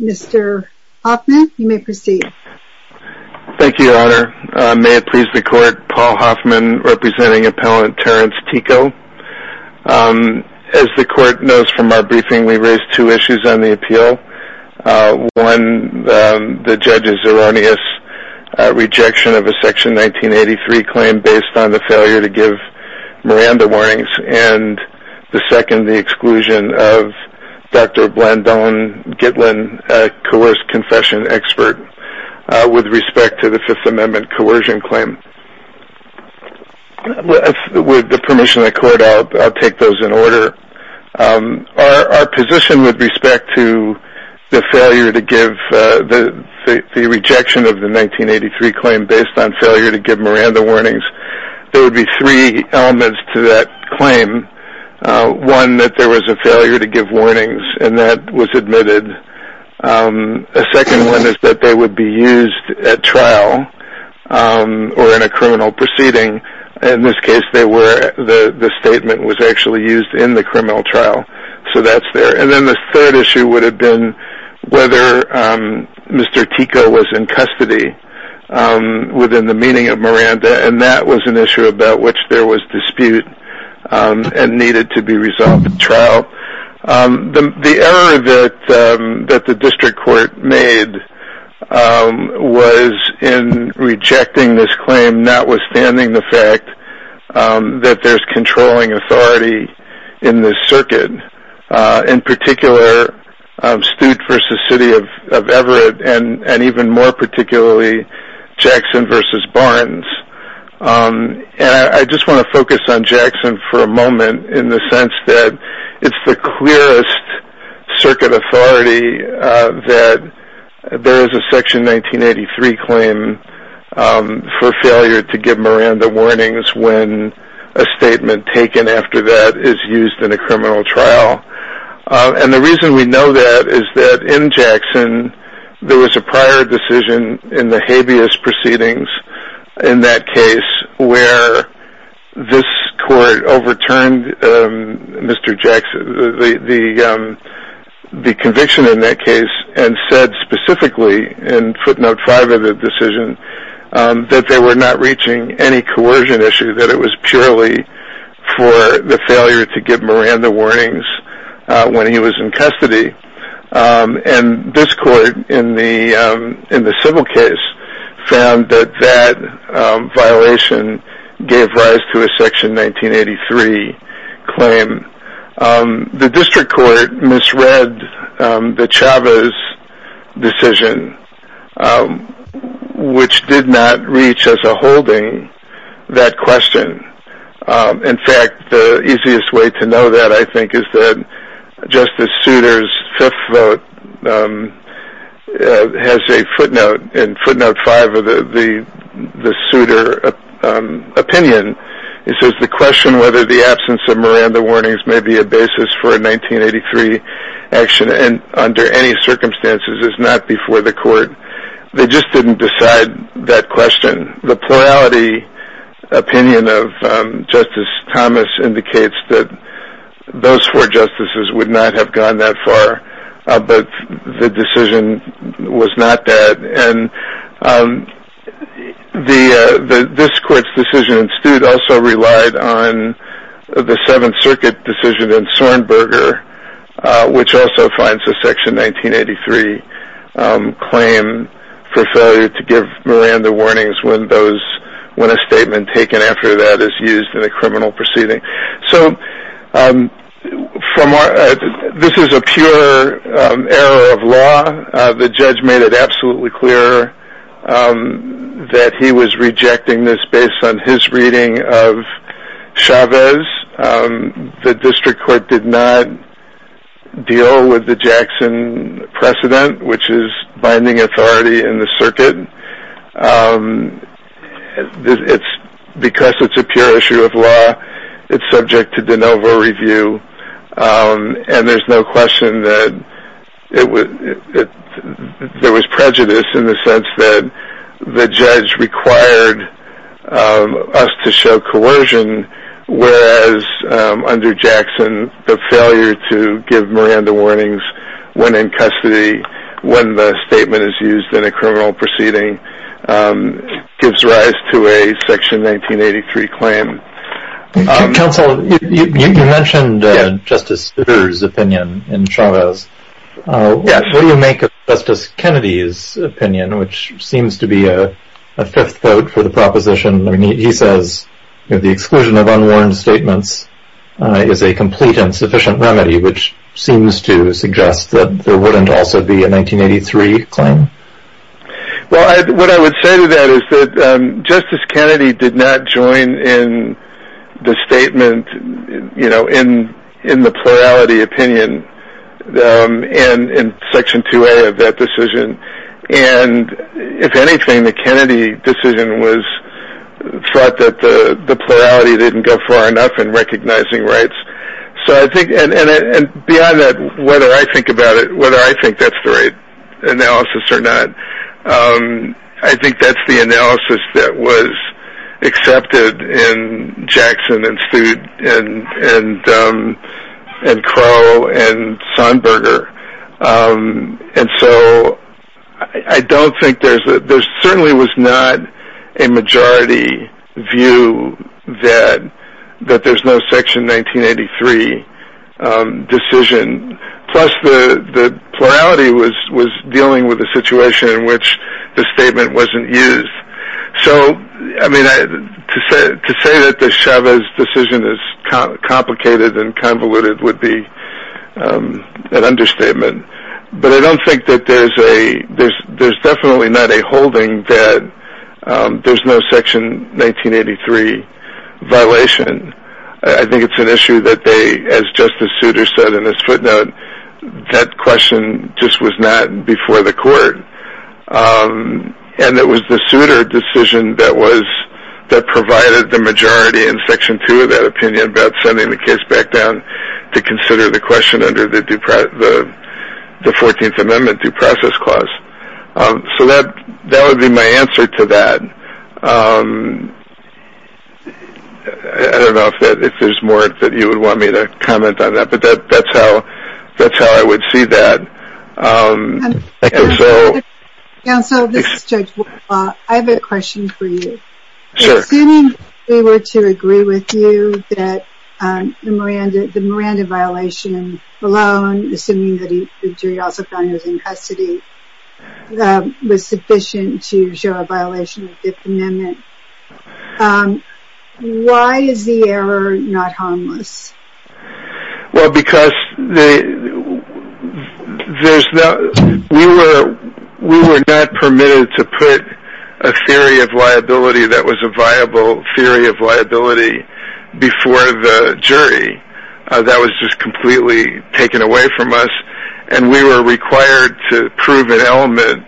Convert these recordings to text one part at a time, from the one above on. Mr. Hoffman, you may proceed. Thank you, Your Honor. May it please the Court, Paul Hoffman, representing Appellant Terence Tekoh. As the Court knows from our briefing, we raised two issues on the appeal. One, the judge's erroneous rejection of a Section 1983 claim based on the failure to give Miranda warnings. And the second, the exclusion of Dr. Blendon Gitlin, a coerced confession expert, with respect to the Fifth Amendment coercion claim. With the permission of the Court, I'll take those in order. Our position with respect to the rejection of the 1983 claim based on failure to give Miranda warnings, there would be three elements to that claim. One, that there was a failure to give warnings, and that was admitted. A second one is that they would be used at trial or in a criminal proceeding. In this case, the statement was actually used in the criminal trial, so that's there. And then the third issue would have been whether Mr. Tekoh was in custody within the meeting of Miranda, and that was an issue about which there was dispute and needed to be resolved at trial. The error that the district court made was in rejecting this claim, notwithstanding the fact that there's controlling authority in this circuit. In particular, Stude v. City of Everett, and even more particularly, Jackson v. Barnes. I just want to focus on Jackson for a moment in the sense that it's the clearest circuit authority that there is a Section 1983 claim for failure to give Miranda warnings when a statement taken after that is used in a criminal trial. And the reason we know that is that in Jackson, there was a prior decision in the habeas proceedings in that case where this court overturned the conviction in that case and said specifically in footnote 5 of the decision that they were not reaching any coercion issue, that it was purely for the failure to give Miranda warnings when he was in custody. And this court in the civil case found that that violation gave rise to a Section 1983 claim. The district court misread the Chavez decision, which did not reach as a holding that question. In fact, the easiest way to know that, I think, is that Justice Souter's fifth vote has a footnote in footnote 5 of the Souter opinion. It says, the question whether the absence of Miranda warnings may be a basis for a 1983 action under any circumstances is not before the court. They just didn't decide that question. The plurality opinion of Justice Thomas indicates that those four justices would not have gone that far, but the decision was not that. And this court's decision in Stude also relied on the Seventh Circuit decision in Sornberger, which also finds a Section 1983 claim for failure to give Miranda warnings when a statement taken after that is used in a criminal proceeding. This is a pure error of law. The judge made it absolutely clear that he was rejecting this based on his reading of Chavez. The district court did not deal with the Jackson precedent, which is binding authority in the circuit. Because it's a pure issue of law, it's subject to de novo review, and there's no question that there was prejudice in the sense that the judge required us to show coercion, whereas under Jackson, the failure to give Miranda warnings when in custody, when the statement is used in a criminal proceeding, gives rise to a Section 1983 claim. Counsel, you mentioned Justice Souter's opinion in Chavez. What do you make of Justice Kennedy's opinion, which seems to be a fifth vote for the proposition? I mean, he says the exclusion of unwarranted statements is a complete and sufficient remedy, which seems to suggest that there wouldn't also be a 1983 claim. Well, what I would say to that is that Justice Kennedy did not join in the statement, you know, in the plurality opinion in Section 2A of that decision. And if anything, the Kennedy decision was thought that the plurality didn't go far enough in recognizing rights. So I think, and beyond that, whether I think about it, whether I think that's the right analysis or not, I think that's the analysis that was accepted in Jackson and Stude and Crow and Sonberger. And so I don't think there's a – there certainly was not a majority view that there's no Section 1983 decision, plus the plurality was dealing with a situation in which the statement wasn't used. So, I mean, to say that the Chavez decision is complicated and convoluted would be an understatement. But I don't think that there's a – there's definitely not a holding that there's no Section 1983 violation. I think it's an issue that they, as Justice Souter said in his footnote, that question just was not before the court. And it was the Souter decision that provided the majority in Section 2 of that opinion about sending the case back down to consider the question under the 14th Amendment due process clause. So that would be my answer to that. I don't know if there's more that you would want me to comment on that, but that's how I would see that. Counsel, this is Judge Woodlaw. I have a question for you. Sure. Assuming we were to agree with you that the Miranda violation alone, assuming that he also found he was in custody, was sufficient to show a violation of the Fifth Amendment, why is the error not harmless? Well, because we were not permitted to put a theory of liability that was a viable theory of liability before the jury. That was just completely taken away from us, and we were required to prove an element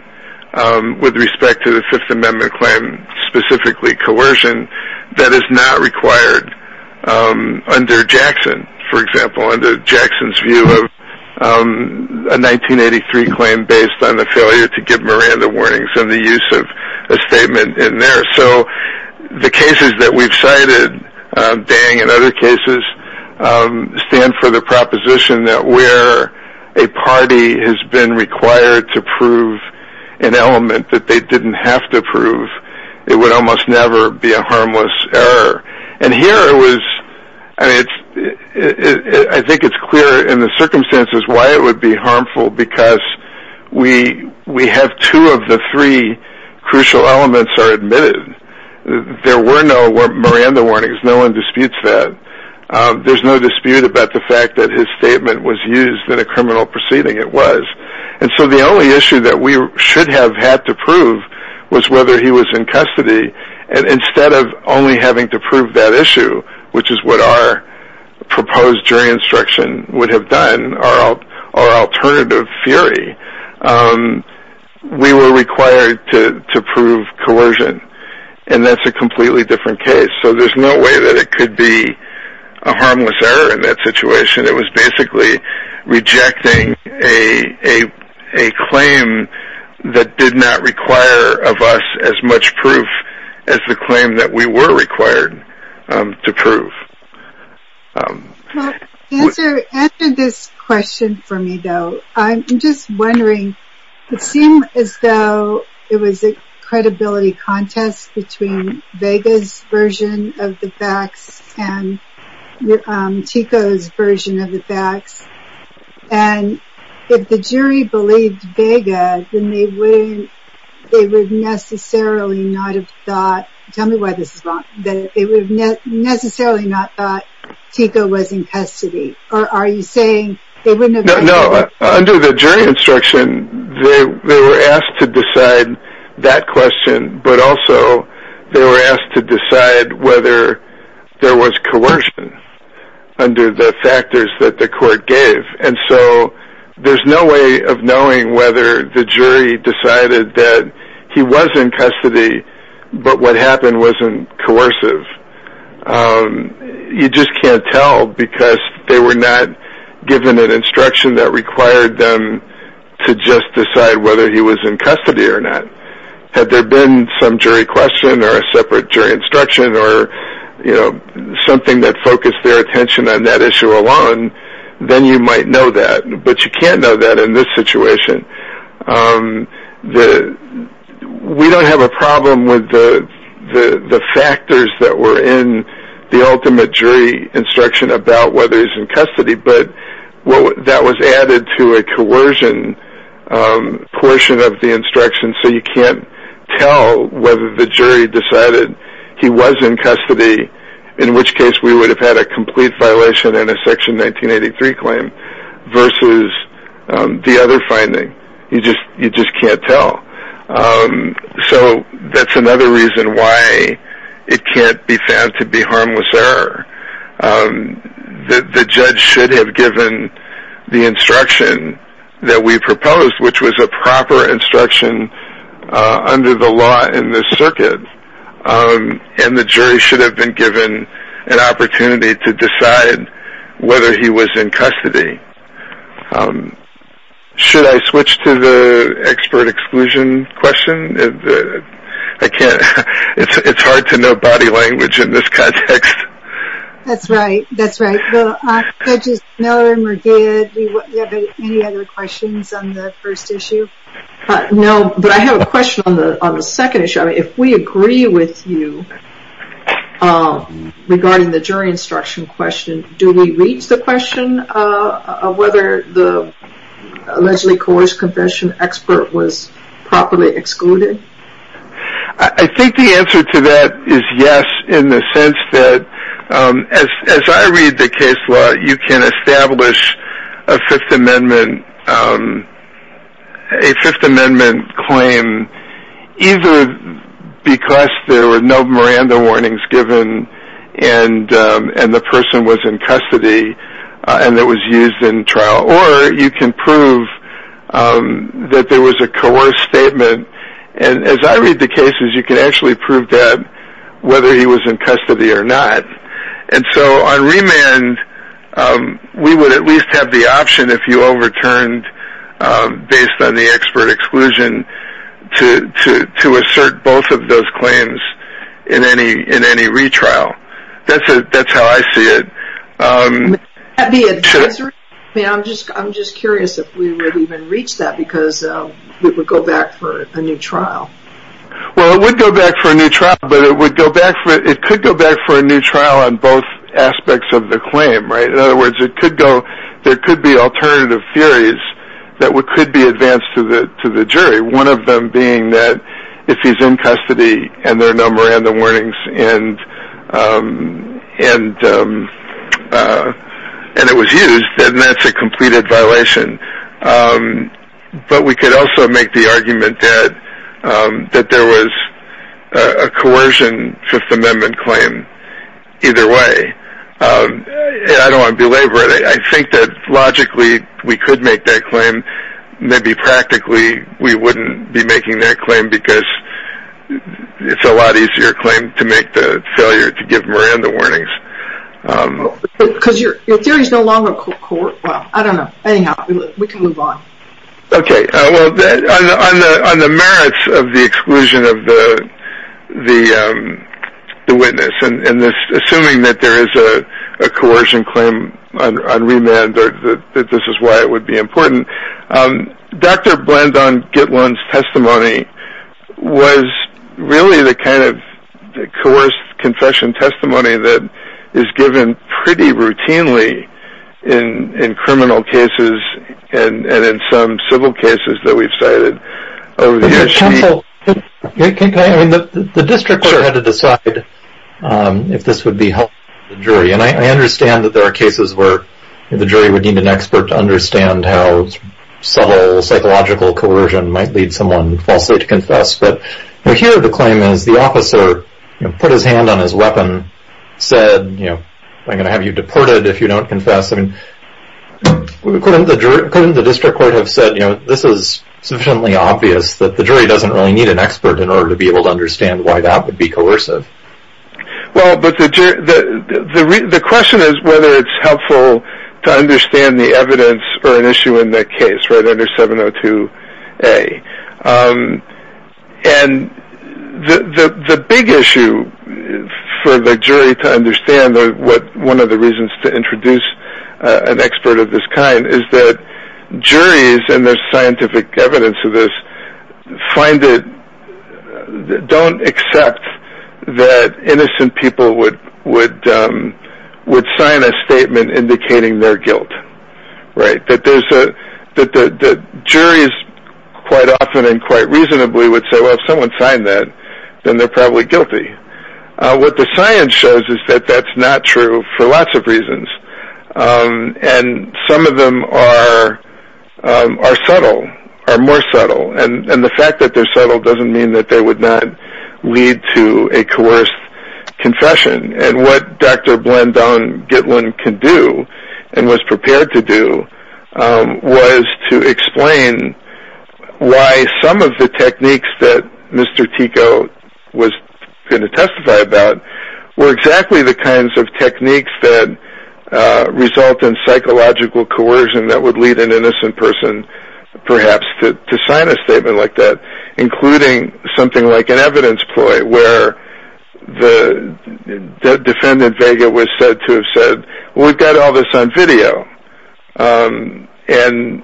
with respect to the Fifth Amendment claim, specifically coercion, that is not required under Jackson. For example, under Jackson's view of a 1983 claim based on the failure to give Miranda warnings and the use of a statement in there. So the cases that we've cited, Dang and other cases, stand for the proposition that where a party has been required to prove an element that they didn't have to prove, it would almost never be a harmless error. And here, I think it's clear in the circumstances why it would be harmful, because we have two of the three crucial elements are admitted. There were no Miranda warnings. No one disputes that. There's no dispute about the fact that his statement was used in a criminal proceeding. It was. And so the only issue that we should have had to prove was whether he was in custody. And instead of only having to prove that issue, which is what our proposed jury instruction would have done, our alternative theory, we were required to prove coercion, and that's a completely different case. So there's no way that it could be a harmless error in that situation. It was basically rejecting a claim that did not require of us as much proof as the claim that we were required to prove. Answer this question for me, though. I'm just wondering. It seemed as though it was a credibility contest between Vega's version of the facts and Tico's version of the facts. And if the jury believed Vega, then they would necessarily not have thought Tico was in custody. No, under the jury instruction, they were asked to decide that question, but also they were asked to decide whether there was coercion under the factors that the court gave. And so there's no way of knowing whether the jury decided that he was in custody, but what happened wasn't coercive. You just can't tell because they were not given an instruction that required them to just decide whether he was in custody or not. Had there been some jury question or a separate jury instruction or something that focused their attention on that issue alone, then you might know that, but you can't know that in this situation. We don't have a problem with the factors that were in the ultimate jury instruction about whether he's in custody, but that was added to a coercion portion of the instruction, so you can't tell whether the jury decided he was in custody, in which case we would have had a complete violation in a Section 1983 claim versus the other finding. You just can't tell. So that's another reason why it can't be found to be harmless error. The judge should have given the instruction that we proposed, which was a proper instruction under the law in this circuit, and the jury should have been given an opportunity to decide whether he was in custody. Should I switch to the expert exclusion question? It's hard to know body language in this context. That's right, that's right. Judge Miller-Murgaid, do you have any other questions on the first issue? No, but I have a question on the second issue. If we agree with you regarding the jury instruction question, do we reach the question of whether the allegedly coerced confession expert was properly excluded? I think the answer to that is yes, in the sense that, as I read the case law, you can establish a Fifth Amendment claim either because there were no Miranda warnings given and the person was in custody and it was used in trial, or you can prove that there was a coerced statement. And as I read the cases, you can actually prove that, whether he was in custody or not. And so on remand, we would at least have the option, if you overturned based on the expert exclusion, to assert both of those claims in any retrial. That's how I see it. Would that be advisory? I'm just curious if we would even reach that because it would go back for a new trial. Well, it would go back for a new trial, but it could go back for a new trial on both aspects of the claim. In other words, there could be alternative theories that could be advanced to the jury, one of them being that if he's in custody and there are no Miranda warnings and it was used, then that's a completed violation. But we could also make the argument that there was a coercion Fifth Amendment claim either way. I don't want to belabor it. I think that logically we could make that claim. Maybe practically we wouldn't be making that claim because it's a lot easier claim to make the failure to give Miranda warnings. Because your theory is no longer coerced. Well, I don't know. Anyhow, we can move on. Okay. Well, on the merits of the exclusion of the witness and assuming that there is a coercion claim on remand or that this is why it would be important, Dr. Blandon-Gitlon's testimony was really the kind of coerced confession testimony that is given pretty routinely in criminal cases and in some civil cases that we've cited over the years. The district court had to decide if this would be helpful to the jury. And I understand that there are cases where the jury would need an expert to understand how subtle psychological coercion might lead someone falsely to confess. But here the claim is the officer put his hand on his weapon, said, you know, I'm going to have you deported if you don't confess. I mean, couldn't the district court have said, you know, this is sufficiently obvious that the jury doesn't really need an expert in order to be able to understand why that would be coercive? Well, but the question is whether it's helpful to understand the evidence or an issue in that case, right, under 702A. And the big issue for the jury to understand, one of the reasons to introduce an expert of this kind, is that juries and their scientific evidence of this find it, don't accept that innocent people would sign a statement indicating their guilt, right, that juries quite often and quite reasonably would say, well, if someone signed that, then they're probably guilty. What the science shows is that that's not true for lots of reasons. And some of them are subtle, are more subtle. And the fact that they're subtle doesn't mean that they would not lead to a coerced confession. And what Dr. Blendon Gitlin can do and was prepared to do, was to explain why some of the techniques that Mr. Tico was going to testify about, were exactly the kinds of techniques that result in psychological coercion that would lead an innocent person perhaps to sign a statement like that, including something like an evidence ploy where the defendant, Vega, was said to have said, well, we've got all this on video. And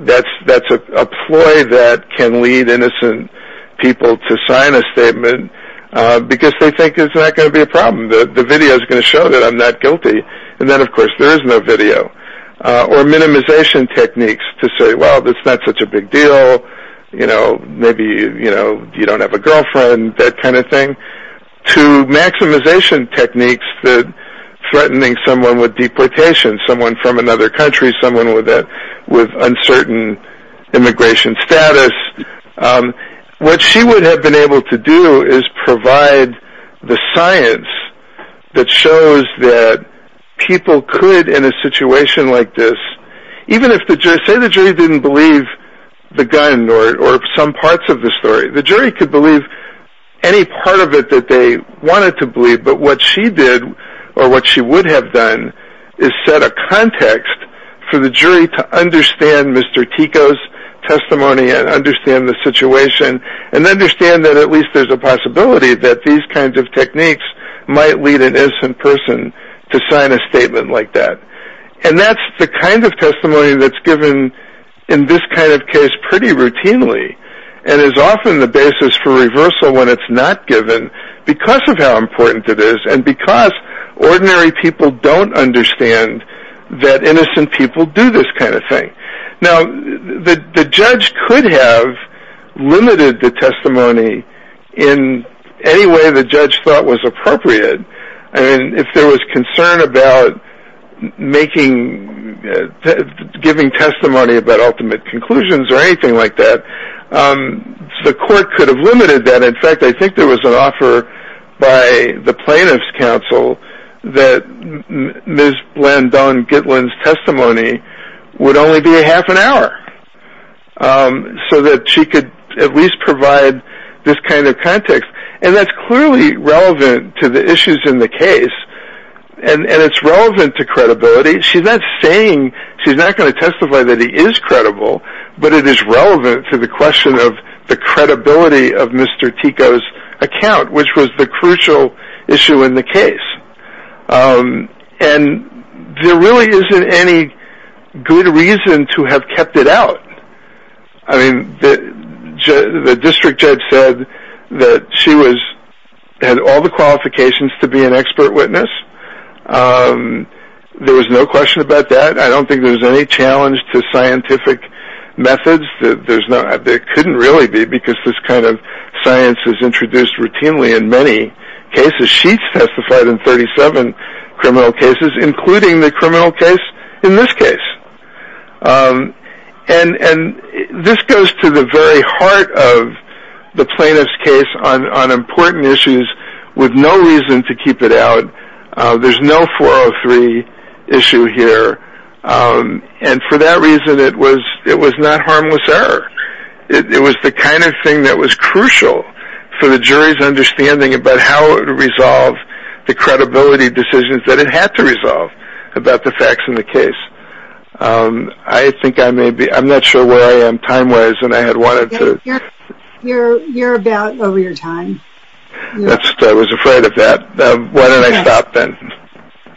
that's a ploy that can lead innocent people to sign a statement because they think it's not going to be a problem. The video is going to show that I'm not guilty. And then, of course, there is no video. Or minimization techniques to say, well, it's not such a big deal. Maybe you don't have a girlfriend, that kind of thing. To maximization techniques that are threatening someone with deportation, someone from another country, someone with uncertain immigration status. What she would have been able to do is provide the science that shows that people could, in a situation like this, even if the jury didn't believe the gun or some parts of the story, the jury could believe any part of it that they wanted to believe. But what she did, or what she would have done, is set a context for the jury to understand Mr. Tico's testimony and understand the situation and understand that at least there's a possibility that these kinds of techniques might lead an innocent person to sign a statement like that. And that's the kind of testimony that's given in this kind of case pretty routinely and is often the basis for reversal when it's not given because of how important it is and because ordinary people don't understand that innocent people do this kind of thing. Now, the judge could have limited the testimony in any way the judge thought was appropriate. If there was concern about giving testimony about ultimate conclusions or anything like that, the court could have limited that. In fact, I think there was an offer by the plaintiff's counsel that Ms. Blandon-Gitlin's testimony would only be a half an hour so that she could at least provide this kind of context. And that's clearly relevant to the issues in the case, and it's relevant to credibility. She's not going to testify that he is credible, but it is relevant to the question of the credibility of Mr. Tico's account, which was the crucial issue in the case. And there really isn't any good reason to have kept it out. The district judge said that she had all the qualifications to be an expert witness. There was no question about that. I don't think there's any challenge to scientific methods. There couldn't really be because this kind of science is introduced routinely in many cases. She testified in 37 criminal cases, including the criminal case in this case. And this goes to the very heart of the plaintiff's case on important issues with no reason to keep it out. There's no 403 issue here. And for that reason, it was not harmless error. It was the kind of thing that was crucial for the jury's understanding about how to resolve the credibility decisions that it had to resolve about the facts in the case. I think I may be – I'm not sure where I am time-wise, and I had wanted to – You're about over your time. I was afraid of that. Why don't I stop then?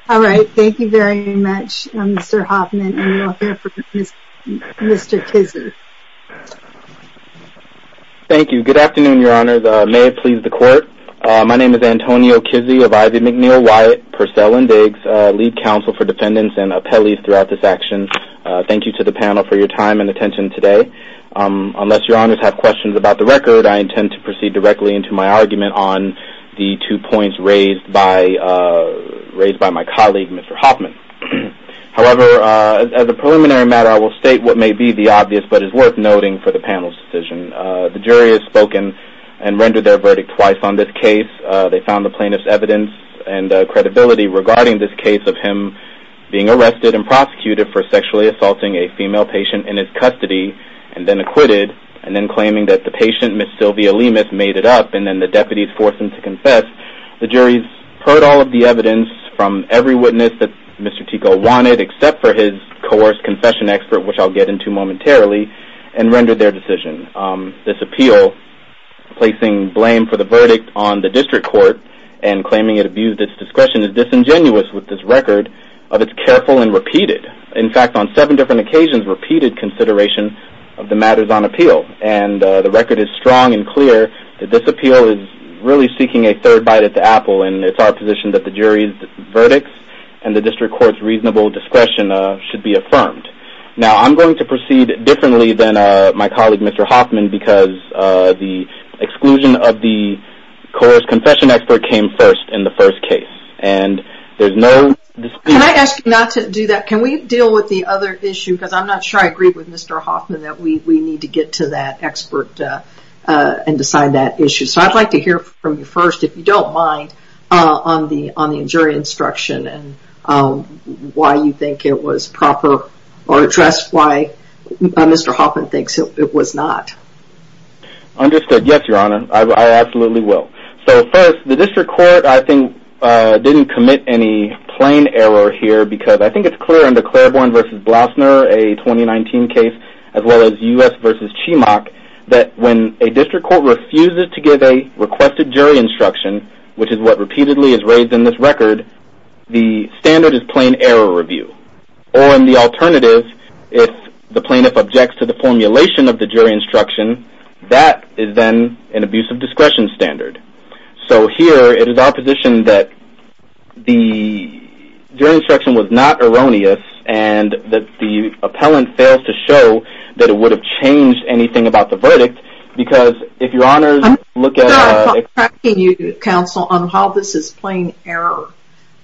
All right. Thank you very much, Mr. Hoffman, and we'll hear from Mr. Kizzee. Thank you. Good afternoon, Your Honors. May it please the Court. My name is Antonio Kizzee of Ivy McNeil Wyatt Purcell & Biggs, lead counsel for defendants and appellees throughout this action. Thank you to the panel for your time and attention today. Unless Your Honors have questions about the record, I intend to proceed directly into my argument on the two points raised by my colleague, Mr. Hoffman. However, as a preliminary matter, I will state what may be the obvious but is worth noting for the panel's decision. The jury has spoken and rendered their verdict twice on this case. They found the plaintiff's evidence and credibility regarding this case of him being arrested and prosecuted for sexually assaulting a female patient in his custody and then acquitted and then claiming that the patient, Ms. Sylvia Lemus, made it up, and then the deputies forced him to confess. The jury's heard all of the evidence from every witness that Mr. Tico wanted, except for his coerced confession expert, which I'll get into momentarily, and rendered their decision. This appeal, placing blame for the verdict on the district court and claiming it abused its discretion, is disingenuous with this record of its careful and repeated, in fact, on seven different occasions, repeated consideration of the matters on appeal. And the record is strong and clear that this appeal is really seeking a third bite at the apple, and it's our position that the jury's verdict and the district court's reasonable discretion should be affirmed. Now, I'm going to proceed differently than my colleague, Mr. Hoffman, because the exclusion of the coerced confession expert came first in the first case, and there's no dispute. Can I ask you not to do that? Can we deal with the other issue, because I'm not sure I agree with Mr. Hoffman, that we need to get to that expert and decide that issue. So I'd like to hear from you first, if you don't mind, on the jury instruction and why you think it was proper or addressed why Mr. Hoffman thinks it was not. Understood. Yes, Your Honor, I absolutely will. So first, the district court, I think, didn't commit any plain error here, because I think it's clear under Claiborne v. Blasner, a 2019 case, as well as U.S. v. Chemock, that when a district court refuses to give a requested jury instruction, which is what repeatedly is raised in this record, the standard is plain error review. Or in the alternative, if the plaintiff objects to the formulation of the jury instruction, that is then an abuse of discretion standard. So here it is our position that the jury instruction was not erroneous and that the appellant fails to show that it would have changed anything about the verdict, because if Your Honor's look at... I'm not attacking you, counsel, on how this is plain error.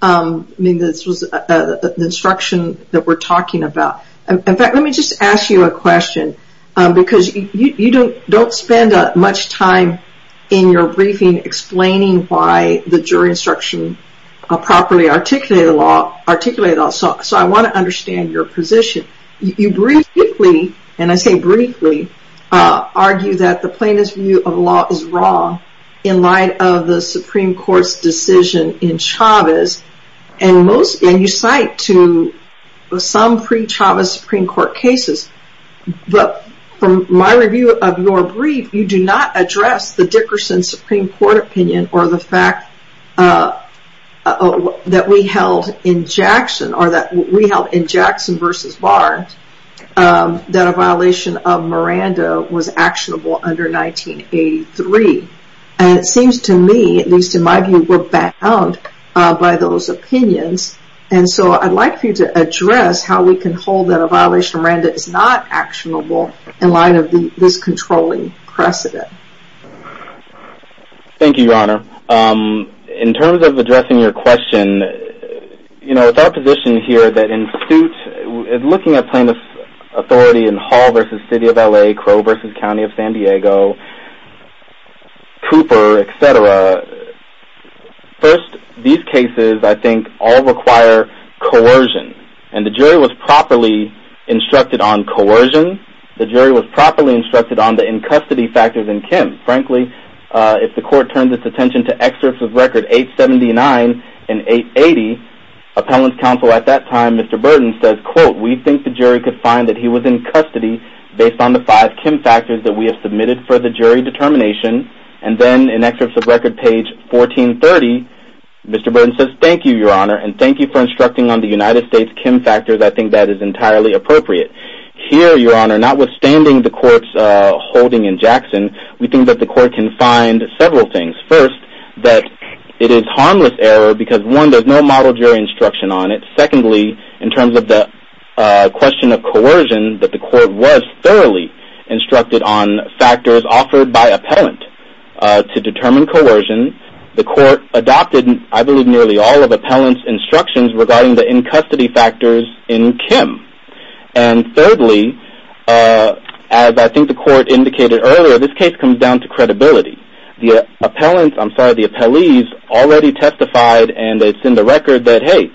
I mean, this was the instruction that we're talking about. In fact, let me just ask you a question, because you don't spend much time in your briefing explaining why the jury instruction properly articulated the law, so I want to understand your position. You briefly, and I say briefly, argue that the plaintiff's view of law is wrong in light of the Supreme Court's decision in Chavez, and you cite to some pre-Chavez Supreme Court cases, but from my review of your brief, you do not address the Dickerson Supreme Court opinion or the fact that we held in Jackson v. Barnes that a violation of Miranda was actionable under 1983, and it seems to me, at least in my view, we're bound by those opinions, and so I'd like for you to address how we can hold that a violation of Miranda is not actionable in light of this controlling precedent. Thank you, Your Honor. In terms of addressing your question, you know, it's our position here that in suit, looking at plaintiff's authority in Hall v. City of L.A., Crow v. County of San Diego, Cooper, etc., first, these cases, I think, all require coercion, and the jury was properly instructed on coercion. The jury was properly instructed on the in-custody factors in Kim. Frankly, if the court turns its attention to excerpts of record 879 and 880, appellant's counsel at that time, Mr. Burton, says, quote, we think the jury could find that he was in custody based on the five Kim factors that we have submitted for the jury determination, and then in excerpts of record page 1430, Mr. Burton says, thank you, Your Honor, and thank you for instructing on the United States Kim factors. I think that is entirely appropriate. Here, Your Honor, notwithstanding the court's holding in Jackson, we think that the court can find several things. First, that it is harmless error because, one, there's no model jury instruction on it. Secondly, in terms of the question of coercion, that the court was thoroughly instructed on factors offered by appellant to determine coercion. The court adopted, I believe, nearly all of appellant's instructions regarding the in-custody factors in Kim. And thirdly, as I think the court indicated earlier, this case comes down to credibility. The appellant's, I'm sorry, the appellee's already testified, and it's in the record that, hey,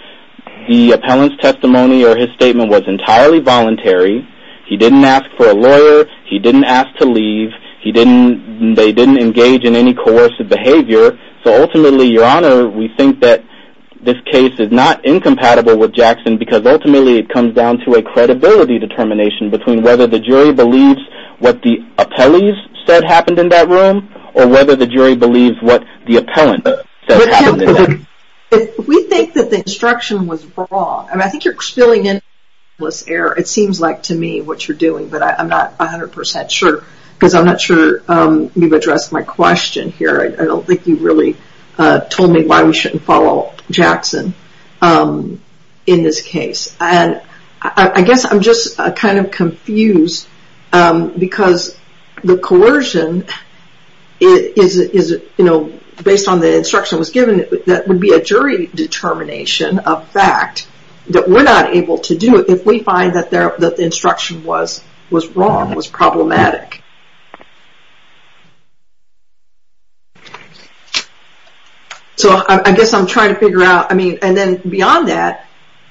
the appellant's testimony or his statement was entirely voluntary. He didn't ask for a lawyer. He didn't ask to leave. He didn't, they didn't engage in any coercive behavior. So ultimately, Your Honor, we think that this case is not incompatible with Jackson because ultimately it comes down to a credibility determination between whether the jury believes what the appellee's said happened in that room or whether the jury believes what the appellant said happened in that room. We think that the instruction was wrong. I mean, I think you're spilling in harmless error. It seems like to me what you're doing, but I'm not 100% sure because I'm not sure you've addressed my question here. I don't think you really told me why we shouldn't follow Jackson in this case. And I guess I'm just kind of confused because the coercion is, you know, based on the instruction that was given, that would be a jury determination of fact that we're not able to do it if we find that the instruction was wrong, was problematic. So I guess I'm trying to figure out, I mean, and then beyond that,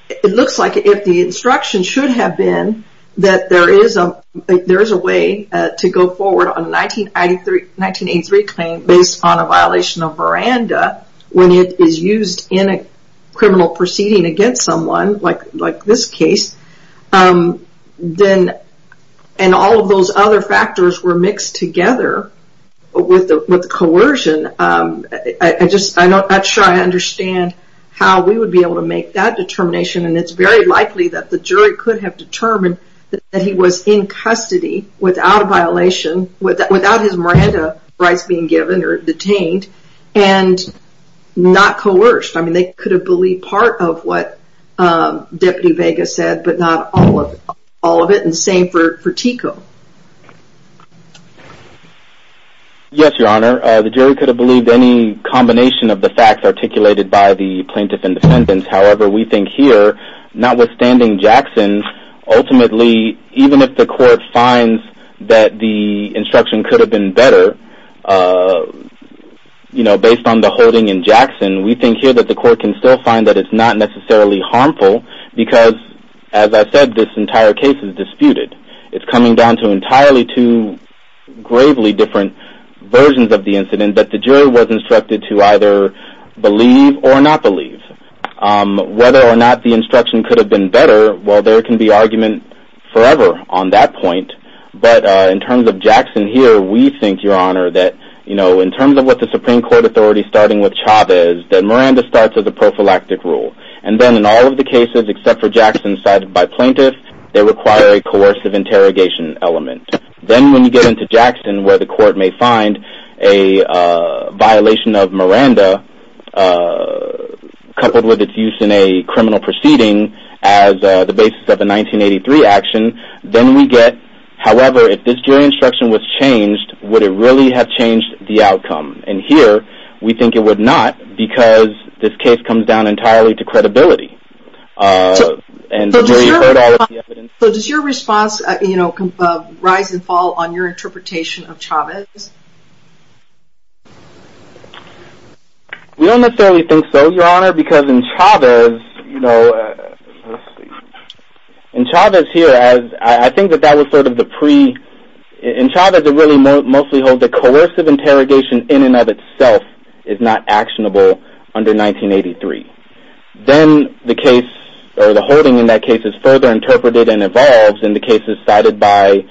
it looks like if the instruction should have been that there is a way to go forward on a 1983 claim based on a violation of veranda when it is used in a criminal proceeding against someone like this case, and all of those other factors were mixed together with the coercion, I'm not sure I understand how we would be able to make that determination. And it's very likely that the jury could have determined that he was in custody without a violation, without his veranda rights being given or detained. And not coerced. I mean, they could have believed part of what Deputy Vega said, but not all of it. And the same for Tico. Yes, Your Honor. The jury could have believed any combination of the facts articulated by the plaintiff in the sentence. However, we think here, notwithstanding Jackson, ultimately, even if the court finds that the instruction could have been better, you know, based on the holding in Jackson, we think here that the court can still find that it's not necessarily harmful because, as I said, this entire case is disputed. It's coming down to entirely two gravely different versions of the incident that the jury was instructed to either believe or not believe. Whether or not the instruction could have been better, well, there can be argument forever on that point. But in terms of Jackson here, we think, Your Honor, that in terms of what the Supreme Court authority starting with Chavez, that Miranda starts as a prophylactic rule. And then in all of the cases except for Jackson cited by plaintiffs, they require a coercive interrogation element. Then when you get into Jackson where the court may find a violation of Miranda coupled with its use in a criminal proceeding as the basis of a 1983 action, then we get, however, if this jury instruction was changed, would it really have changed the outcome? And here we think it would not because this case comes down entirely to credibility. So does your response, you know, rise and fall on your interpretation of Chavez? We don't necessarily think so, Your Honor, because in Chavez, you know, in Chavez here, I think that that was sort of the pre- in Chavez it really mostly holds a coercive interrogation in and of itself is not actionable under 1983. Then the case or the holding in that case is further interpreted and evolves in the cases cited by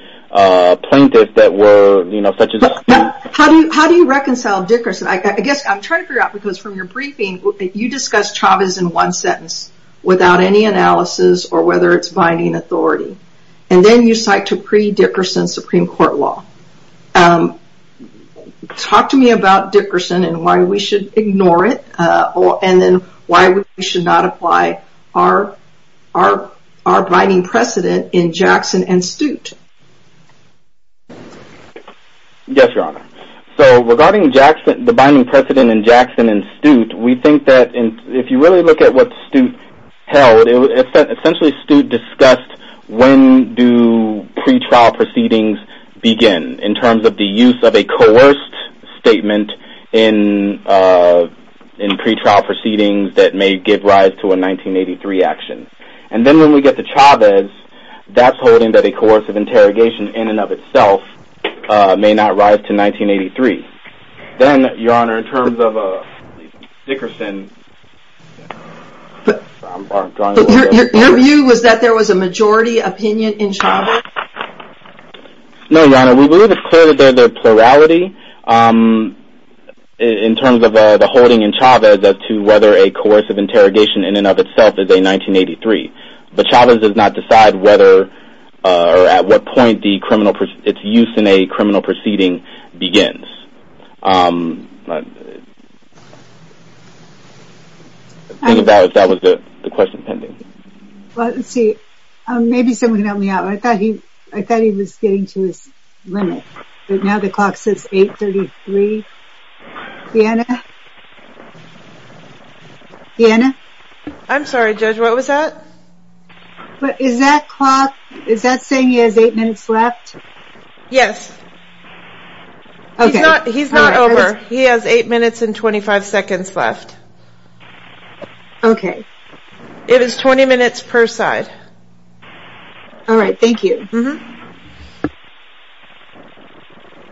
plaintiffs that were, you know, such as- How do you reconcile Dickerson? I guess I'm trying to figure out because from your briefing, you discussed Chavez in one sentence without any analysis or whether it's binding authority. And then you cite to pre-Dickerson Supreme Court law. Talk to me about Dickerson and why we should ignore it and then why we should not apply our binding precedent in Jackson and Stute. Yes, Your Honor. So regarding the binding precedent in Jackson and Stute, we think that if you really look at what Stute held, essentially Stute discussed when do pretrial proceedings begin in terms of the use of a coerced statement in pretrial proceedings that may give rise to a 1983 action. And then when we get to Chavez, that's holding that a coercive interrogation in and of itself may not rise to 1983. Then, Your Honor, in terms of Dickerson- Your view was that there was a majority opinion in Chavez? No, Your Honor. We believe it's clear that there's a plurality in terms of the holding in Chavez as to whether a coercive interrogation in and of itself is a 1983. But Chavez does not decide whether or at what point its use in a criminal proceeding begins. Think about if that was the question pending. Well, let's see. Maybe someone can help me out. I thought he was getting to his limit. But now the clock says 833. Deanna? Deanna? I'm sorry, Judge. What was that? Is that saying he has 8 minutes left? Yes. He's not over. He has 8 minutes and 25 seconds left. Okay. It is 20 minutes per side. All right. Thank you.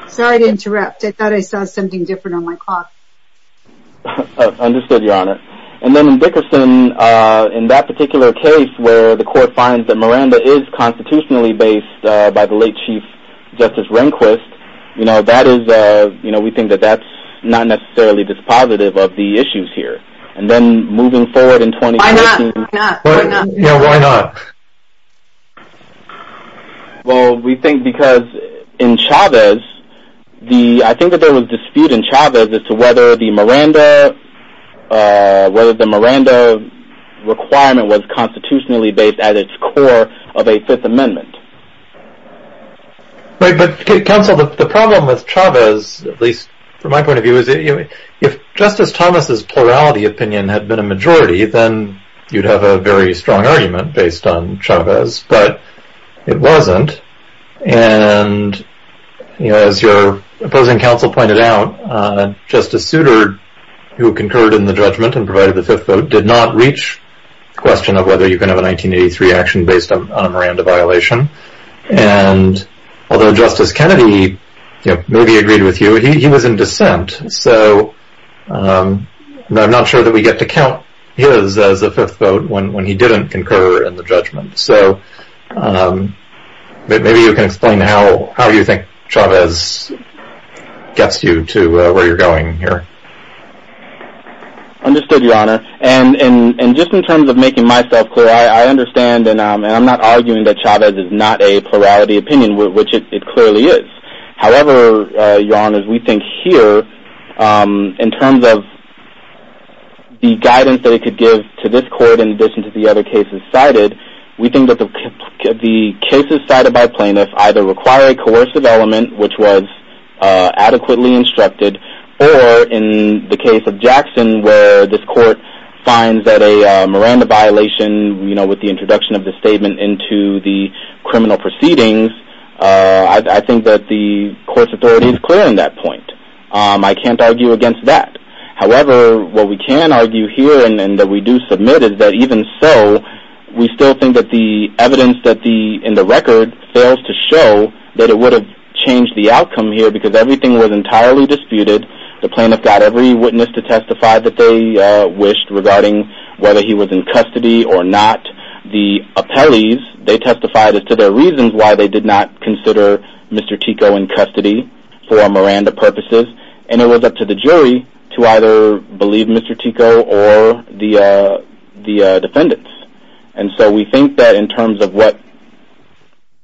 Sorry to interrupt. I thought I saw something different on my clock. Understood, Your Honor. And then in Dickerson, in that particular case where the court finds that Miranda is constitutionally based by the late Chief Justice Rehnquist, you know, we think that that's not necessarily dispositive of the issues here. And then moving forward in 2016. Why not? Yeah, why not? Well, we think because in Chavez, I think that there was dispute in Chavez as to whether the Miranda requirement was constitutionally based at its core of a Fifth Amendment. But, Counsel, the problem with Chavez, at least from my point of view, is if Justice Thomas' plurality opinion had been a majority, then you'd have a very strong argument based on Chavez. But it wasn't. And as your opposing counsel pointed out, Justice Souter, who concurred in the judgment and provided the fifth vote, did not reach the question of whether you can have a 1983 action based on a Miranda violation. And although Justice Kennedy maybe agreed with you, he was in dissent. So I'm not sure that we get to count his as a fifth vote when he didn't concur in the judgment. So maybe you can explain how you think Chavez gets you to where you're going here. Understood, Your Honor. And just in terms of making myself clear, I understand, and I'm not arguing that Chavez is not a plurality opinion, which it clearly is. However, Your Honor, we think here, in terms of the guidance that it could give to this court in addition to the other cases cited, we think that the cases cited by plaintiffs either require a coercive element, which was adequately instructed, or in the case of Jackson where this court finds that a Miranda violation, you know, with the introduction of the statement into the criminal proceedings, I think that the court's authority is clear in that point. I can't argue against that. However, what we can argue here and that we do submit is that even so, we still think that the evidence in the record fails to show that it would have changed the outcome here because everything was entirely disputed. The plaintiff got every witness to testify that they wished regarding whether he was in custody or not. The appellees, they testified as to their reasons why they did not consider Mr. Tico in custody for Miranda purposes, and it was up to the jury to either believe Mr. Tico or the defendants. And so we think that in terms of what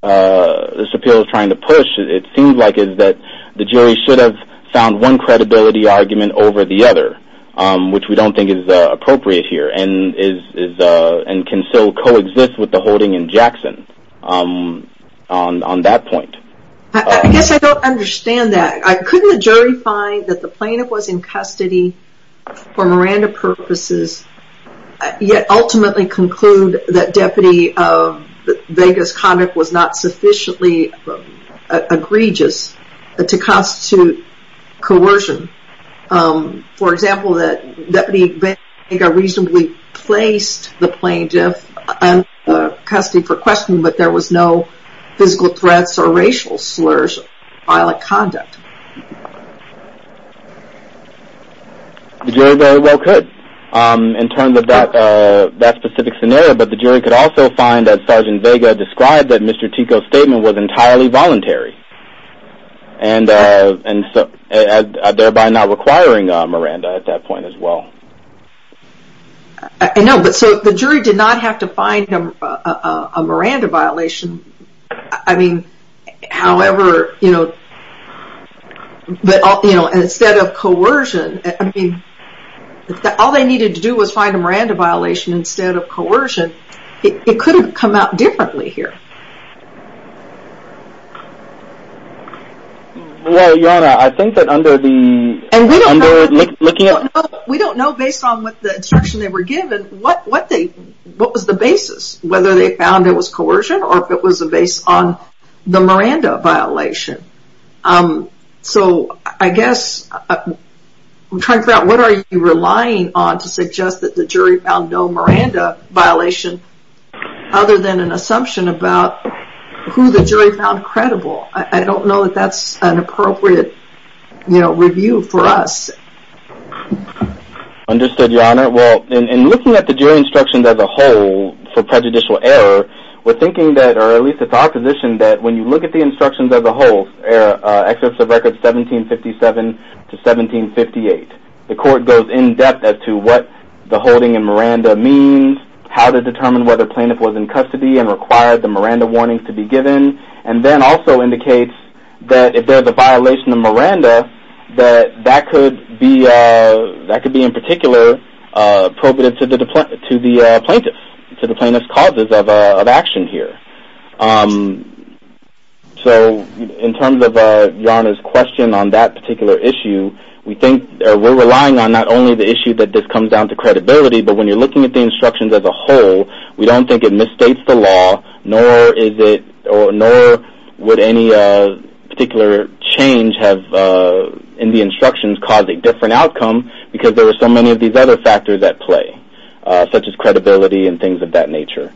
this appeal is trying to push, it seems like the jury should have found one credibility argument over the other, which we don't think is appropriate here and can still coexist with the holding in Jackson on that point. I guess I don't understand that. Couldn't the jury find that the plaintiff was in custody for Miranda purposes, yet ultimately conclude that Deputy Vega's conduct was not sufficiently egregious to constitute coercion? For example, that Deputy Vega reasonably placed the plaintiff in custody for questioning, but there was no physical threats or racial slurs or violent conduct. The jury very well could in terms of that specific scenario, but the jury could also find that Sergeant Vega described that Mr. Tico's statement was entirely voluntary, thereby not requiring Miranda at that point as well. I know, but so the jury did not have to find a Miranda violation. I mean, however, you know, instead of coercion, I mean, all they needed to do was find a Miranda violation instead of coercion. It could have come out differently here. Well, Yonah, I think that under the... We don't know based on what the instruction they were given what was the basis, whether they found it was coercion or if it was based on the Miranda violation. So I guess I'm trying to figure out what are you relying on to suggest that the jury found no Miranda violation other than an assumption about who the jury found credible. I don't know that that's an appropriate, you know, review for us. Understood, Yonah. Well, in looking at the jury instructions as a whole for prejudicial error, we're thinking that or at least it's our position that when you look at the instructions as a whole, excerpts of records 1757 to 1758, the court goes in-depth as to what the holding in Miranda means, how to determine whether plaintiff was in custody and required the Miranda warnings to be given, and then also indicates that if there's a violation of Miranda, that that could be in particular appropriate to the plaintiff, to the plaintiff's causes of action here. So in terms of Yonah's question on that particular issue, we're relying on not only the issue that this comes down to credibility, but when you're looking at the instructions as a whole, we don't think it misstates the law, nor would any particular change in the instructions cause a different outcome because there are so many of these other factors at play, such as credibility and things of that nature.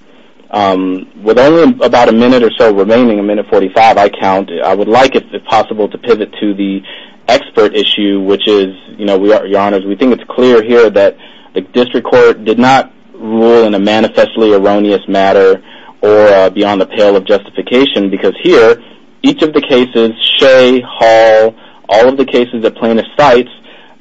With only about a minute or so remaining, a minute 45, I count, I would like, if possible, to pivot to the expert issue, which is, we think it's clear here that the district court did not rule in a manifestly erroneous matter or beyond the pale of justification because here, each of the cases, Shea, Hall, all of the cases that plaintiff cites,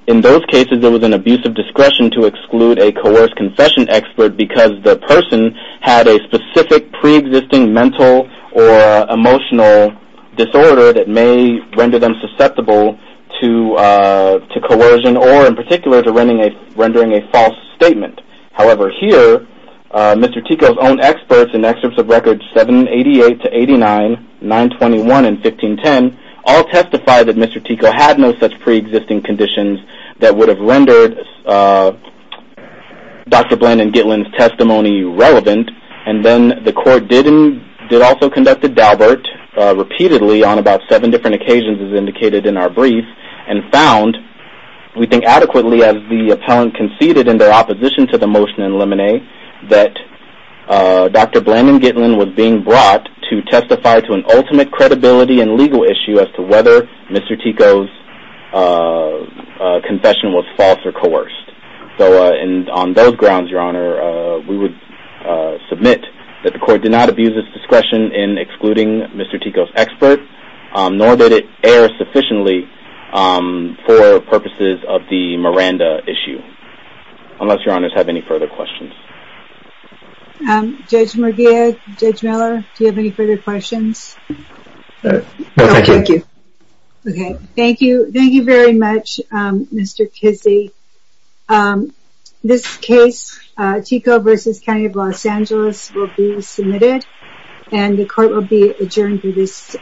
in those cases, there was an abuse of discretion to exclude a coerced confession expert because the person had a specific preexisting mental or emotional disorder that may render them susceptible to coercion or, in particular, to rendering a false statement. However, here, Mr. Tico's own experts in excerpts of records 788 to 89, 921 and 1510, all testify that Mr. Tico had no such preexisting conditions that would have rendered Dr. Bland and Gitlin's testimony irrelevant. And then the court did also conduct a daubert repeatedly on about seven different occasions, as indicated in our brief, and found, we think adequately, as the appellant conceded in their opposition to the motion in Lemonet, that Dr. Bland and Gitlin was being brought to testify to an ultimate credibility and legal issue as to whether Mr. Tico's confession was false or coerced. So, on those grounds, Your Honor, we would submit that the court did not abuse its discretion in excluding Mr. Tico's experts, nor did it err sufficiently for purposes of the Miranda issue. Unless Your Honors have any further questions. Judge Merguez, Judge Miller, do you have any further questions? No, thank you. Okay, thank you very much, Mr. Kizzee. This case, Tico v. County of Los Angeles, will be submitted, and the court will be adjourned through this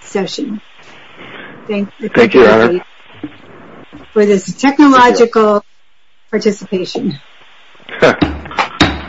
session. Thank you for this technological participation.